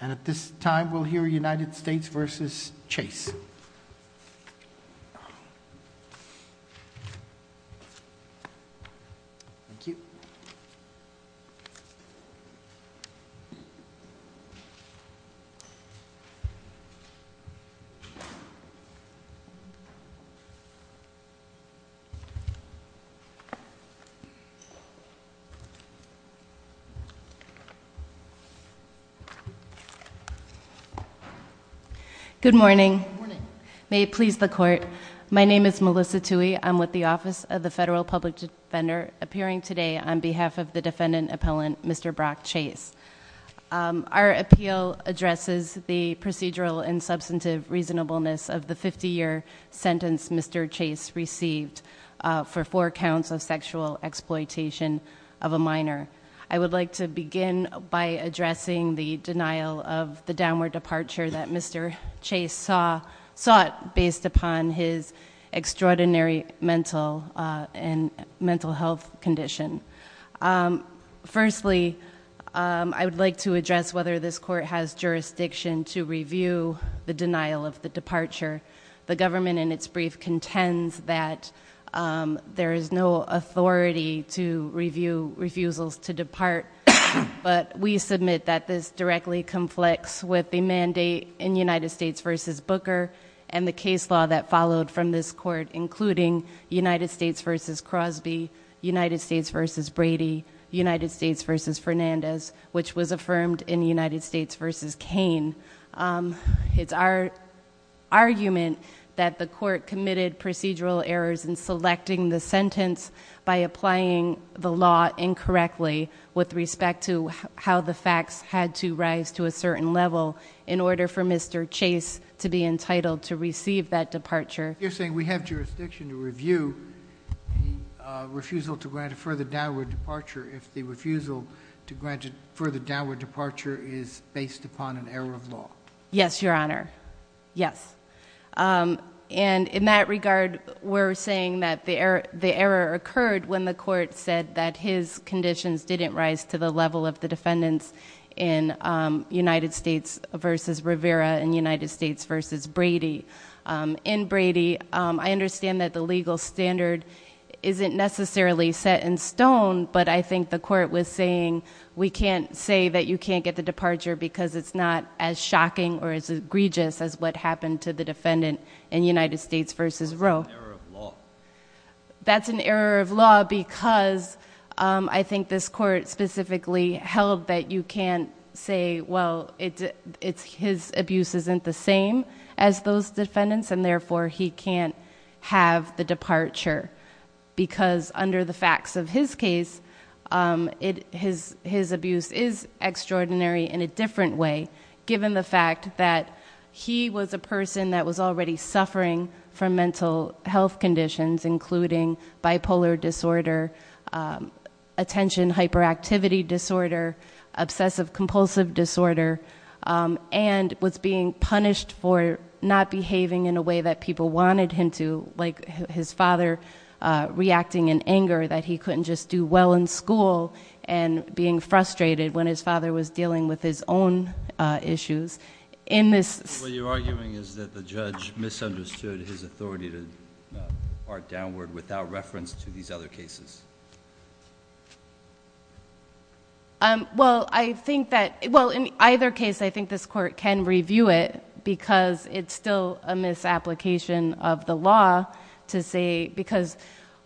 And at this time we'll hear United States v. Chase. Good morning. May it please the court. My name is Melissa Toohey. I'm with the Office of the Federal Public Defender, appearing today on behalf of the defendant appellant, Mr. Brock Chase. Our appeal addresses the procedural and substantive reasonableness of the 50-year sentence Mr. Chase received for four counts of sexual exploitation of a minor. I would like to begin by addressing the denial of the downward departure that Mr. Chase sought based upon his extraordinary mental health condition. Firstly, I would like to address whether this court has jurisdiction to review the denial of the departure. The government in its brief contends that there is no authority to review refusals to depart, but we submit that this directly conflicts with the mandate in United States v. Booker and the case law that followed from this court, including United States v. Crosby, United States v. Brady, United States v. Fernandez, which was affirmed in United States v. Kane. It's our argument that the court committed procedural errors in selecting the sentence by applying the statute with respect to how the facts had to rise to a certain level in order for Mr. Chase to be entitled to receive that departure. You're saying we have jurisdiction to review the refusal to grant a further downward departure if the refusal to grant a further downward departure is based upon an error of law? Yes, Your Honor. Yes. And in that regard, we're saying that the error occurred when the court said that his conditions didn't rise to the level of the defendant's in United States v. Rivera and United States v. Brady. In Brady, I understand that the legal standard isn't necessarily set in stone, but I think the court was saying we can't say that you can't get the departure because it's not as shocking or as egregious as what happened to the defendant in United States v. Rowe. That's an error of law. Because I think this court specifically held that you can't say, well, his abuse isn't the same as those defendants and therefore he can't have the departure because under the facts of his case, his abuse is extraordinary in a different way given the fact that he was a person that was already suffering from mental health conditions including bipolar disorder, attention hyperactivity disorder, obsessive compulsive disorder and was being punished for not behaving in a way that people wanted him to, like his father reacting in anger that he couldn't just do well in school and being frustrated when his father was dealing with his own issues. What you're arguing is that the judge misunderstood his downward without reference to these other cases. Well, I think that, well, in either case I think this court can review it because it's still a misapplication of the law to say because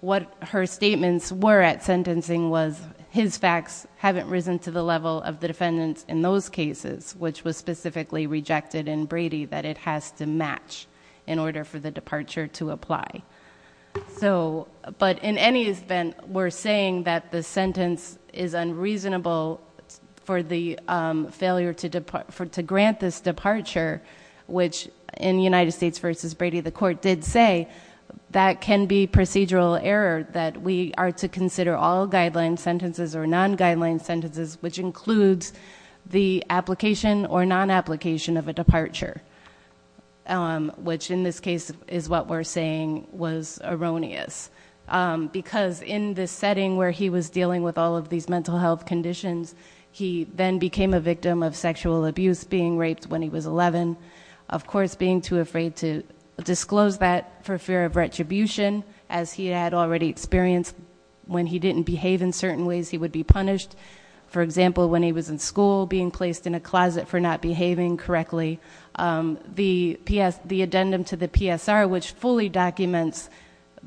what her statements were at sentencing was his facts haven't risen to the level of the defendants in those cases, which was specifically rejected in Brady that it has to match in order for the but in any event we're saying that the sentence is unreasonable for the failure to grant this departure, which in United States v. Brady the court did say that can be procedural error that we are to consider all guideline sentences or non-guideline sentences which includes the application or non-application of a departure, which in this case is what we're saying was erroneous because in this setting where he was dealing with all of these mental health conditions he then became a victim of sexual abuse being raped when he was 11 of course being too afraid to disclose that for fear of retribution as he had already experienced when he didn't behave in certain ways he would be punished. For example, when he was in school being placed in a closet for not behaving correctly the addendum to the PSR which fully documents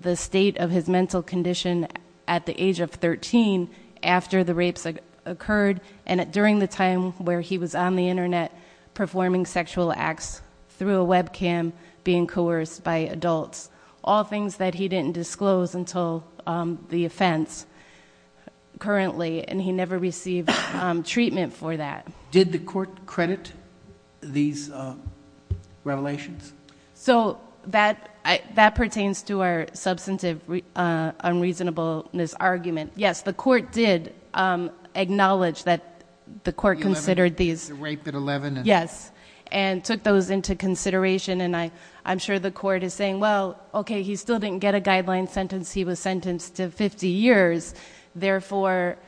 the state of his mental condition at the age of 13 after the rapes occurred and during the time where he was on the internet performing sexual acts through a webcam being coerced by adults. All things that he didn't disclose until the offense currently and he never received treatment for that. Did the court credit these revelations? So that pertains to our substantive unreasonableness argument. Yes, the court did acknowledge that the court considered these and took those into consideration and I'm sure the court is saying, well, okay, he still didn't get a guideline sentence, he was sentenced to 50 years, therefore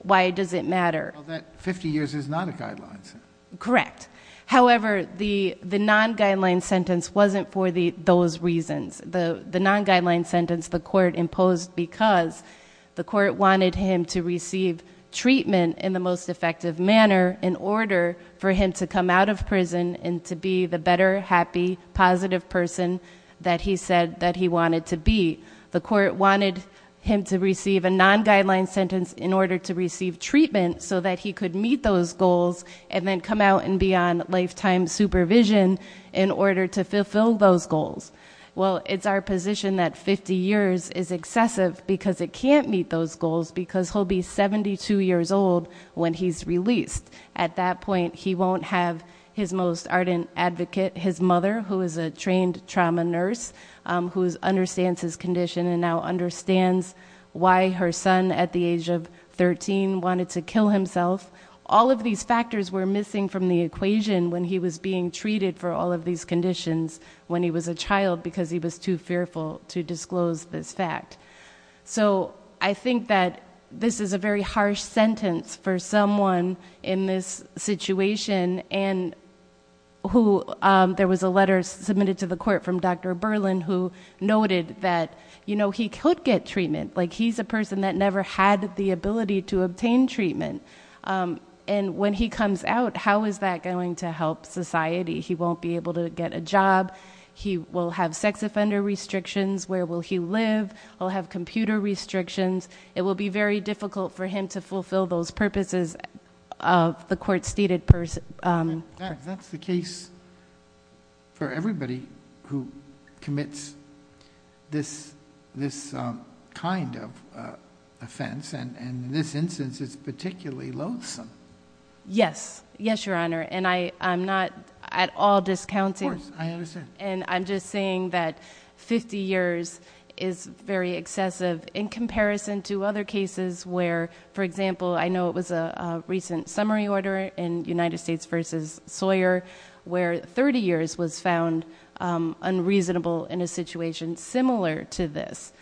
why does it matter? Well, that 50 years is not a guideline sentence. Correct. However the non-guideline sentence wasn't for those reasons. The non-guideline sentence the court imposed because the court wanted him to receive treatment in the most effective manner in order for him to come out of prison and to be the better happy positive person that he said that he wanted to be. The court wanted him to receive a non-guideline sentence in order to receive treatment so that he could meet those goals and then come out and be on lifetime supervision in order to fulfill those goals. Well, it's our position that 50 years is excessive because it can't meet those goals because he'll be 72 years old when he's released. At that point, he won't have his most ardent advocate, his mother who is a trained trauma nurse who understands his condition and now understands why her son at the age of 13 wanted to kill himself. All of these factors were missing from the equation when he was being treated for all of these conditions when he was a child because he was too fearful to disclose this fact. So, I think that this is a very harsh sentence for someone in this situation and who there was a letter submitted to the court from Dr. Berlin who noted that he could get treatment. He's a person that never had the ability to obtain treatment. When he comes out, how is that going to help society? He won't be able to get a job. He will have sex offender restrictions. Where will he live? He'll have computer restrictions. It will be very difficult for him to fulfill those purposes of the court stated person. That's the case for everybody who has this kind of offense. In this instance, it's particularly loathsome. Yes, Your Honor. I'm not at all discounting. I'm just saying that 50 years is very excessive in comparison to other cases where, for example, I know it was a recent summary order in United States versus Sawyer where 30 years was found unreasonable in a situation similar to this.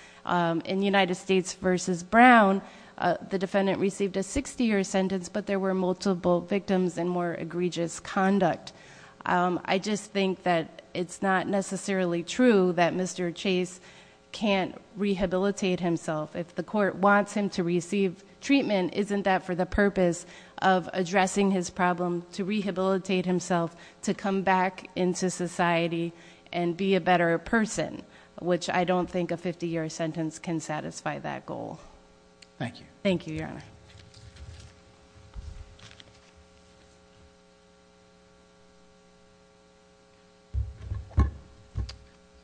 In United States versus Brown, the defendant received a 60-year sentence, but there were multiple victims and more egregious conduct. I just think that it's not necessarily true that Mr. Chase can't rehabilitate himself. If the court wants him to receive treatment, isn't that for the purpose of addressing his problem, to rehabilitate himself, to come back into society and be a better person, which I don't think a 50-year sentence can satisfy that goal. Thank you. Thank you, Your Honor.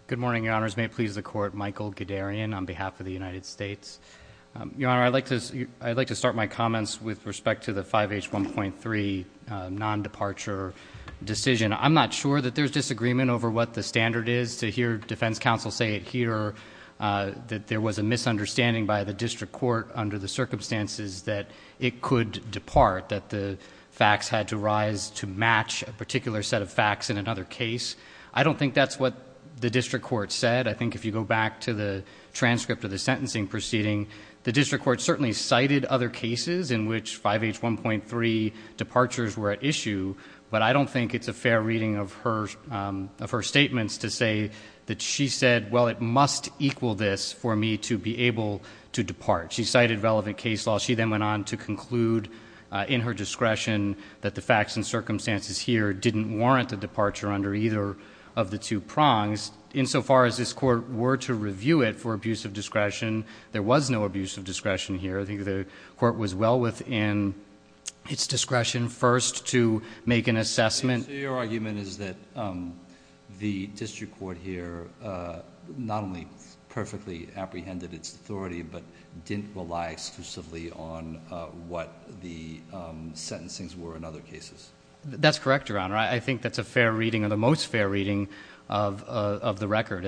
Good morning, Your Honors. May it please the Court, Michael Gadarian on behalf of the United States. Your Honor, I'd like to start my comments with respect to the 5H1.3 non-departure decision. I'm not sure that there's disagreement over what the standard is to hear defense counsel say it here, that there was a misunderstanding by the district court under the circumstances that it could depart, that the facts had to rise to match a particular set of facts in another case. I don't think that's what the district court said. I think if you go back to the transcript of the sentencing proceeding, the district court certainly cited other cases in which 5H1.3 departures were at issue, but I don't think it's a fair reading of her statements to say that she said, well, it must equal this for me to be able to depart. She cited relevant case law. She then went on to conclude in her discretion that the facts and circumstances here didn't warrant a departure under either of the two prongs. Insofar as this court were to review it for abuse of discretion, there was no abuse of discretion here. I think the court was well within its discretion first to make an assessment. Your argument is that the district court here not only perfectly apprehended its authority, but didn't rely exclusively on what the sentencings were in other cases. That's correct, Your Honor. I think that's a fair reading, or the most fair reading, of the record.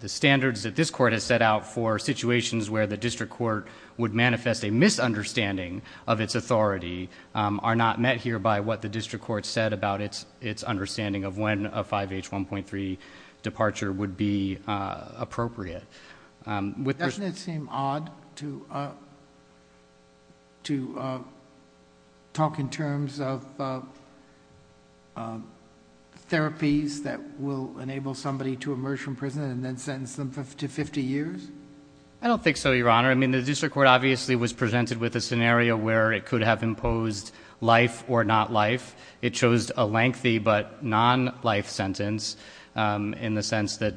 The standards that this court has set out for situations where the district court would manifest a misunderstanding of its authority are not met here by what the district court said about its understanding of when a 5H1.3 departure would be appropriate. Doesn't it seem odd to talk in terms of therapies that will enable somebody to emerge from prison and then sentence them to 50 years? I don't think so, Your Honor. The district court obviously was presented with a scenario where it could have imposed life or not life. It chose a lengthy but non-life sentence in the sense that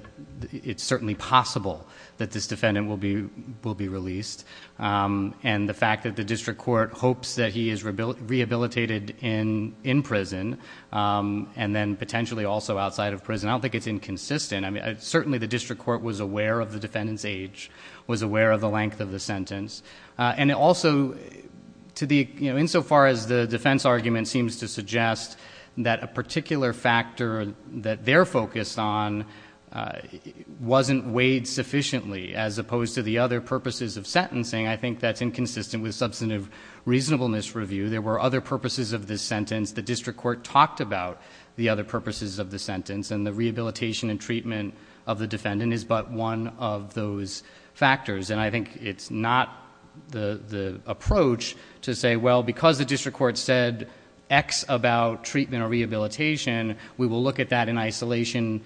it's certainly possible that this defendant will be released. The fact that the district court hopes that he is rehabilitated in prison and then potentially also outside of prison, I don't think it's inconsistent. Certainly the district court was aware of the defendant's age, was aware of the length of the sentence. Insofar as the defense argument seems to suggest that a particular factor that they're focused on wasn't weighed sufficiently as opposed to the other purposes of sentencing, I think that's inconsistent with substantive reasonableness review. There were other purposes of this sentence. The district court talked about the other purposes of the sentence and the rehabilitation and treatment of the defendant is but one of those factors. I think it's not the approach to say, well, because the district court said X about treatment or rehabilitation, we will look at that in isolation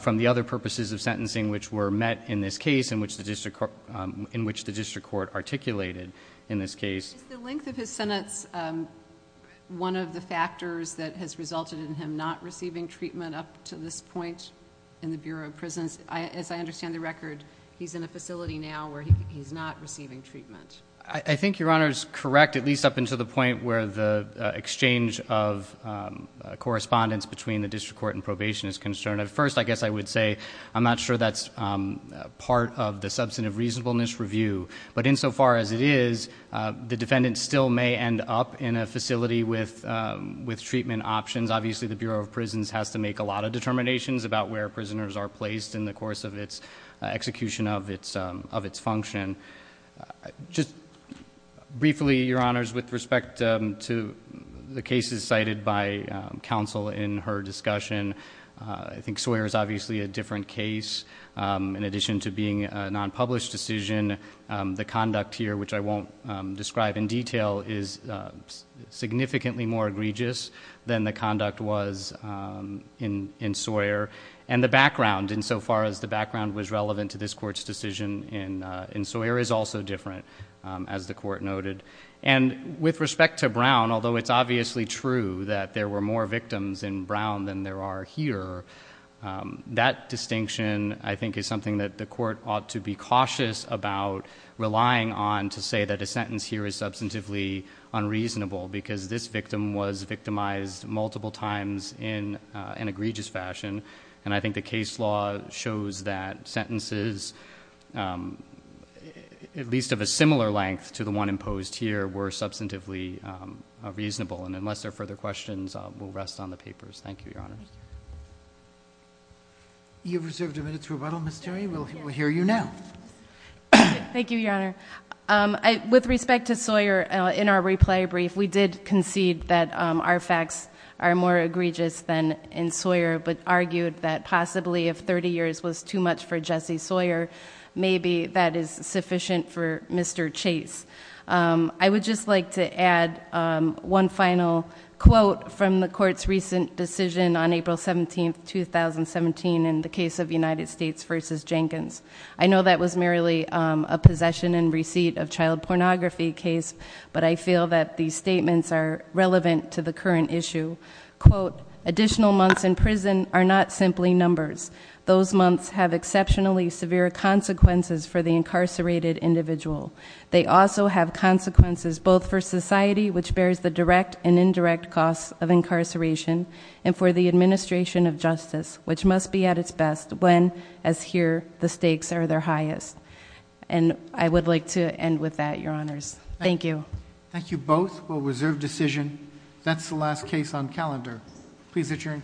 from the other purposes of sentencing which were met in this case in which the district court articulated in this case. Is the length of his sentence one of the factors that has resulted in him not receiving treatment up to this point in the Bureau of Prisons? As I understand the record, he's in a facility now where he's not receiving treatment. I think Your Honor is correct, at least up until the point where the exchange of correspondence between the district court and probation is concerned. At first, I guess I would say I'm not sure that's part of the substantive reasonableness review, but insofar as it is, the defendant still may end up in a facility with treatment options. Obviously, the Bureau of Prisons has to make a lot of determinations about where prisoners are placed in the course of its execution of its function. Just briefly, Your Honors, with respect to the cases cited by counsel in her discussion, I think Sawyer is obviously a different case. In addition to being a non-published decision, the conduct here, which I won't describe in detail, is significantly more egregious than the conduct was in Sawyer. The background, insofar as the background was relevant to this court's decision in Sawyer, is also different, as the court noted. With respect to Brown, although it's obviously true that there were more victims in Brown than there are here, that distinction, I think, is something that the court ought to be cautious about relying on to say that a sentence here is substantively unreasonable because this victim was victimized multiple times in an egregious fashion. I think the case law shows that sentences, at least of a similar length to the one imposed here, were substantively reasonable. Unless there are further questions, we'll rest on the papers. Thank you, Your Honors. You have reserved a minute to rebuttal, Ms. Terry. We'll hear you now. Thank you, Your Honor. With respect to Sawyer, in our reply brief, we did concede that our facts are more egregious than in Sawyer, but argued that possibly if 30 years was too much for Jesse Sawyer, maybe that is sufficient for Mr. Chase. I would just like to add one final quote from the court's recent decision on April 17, 2017 in the case of United States v. Jenkins. I know that was merely a possession and receipt of child pornography case, but I feel that these statements are relevant to the current issue. Additional months in prison are not simply numbers. Those months have exceptionally severe consequences for the incarcerated individual. They also have consequences both for society, which bears the direct and indirect costs of incarceration, and for the administration of justice, which must be at its best when, as here, the stakes are their highest. I would like to end with that, Your Honors. Thank you. Thank you both. We'll reserve decision. That's the last case on calendar. Please adjourn court.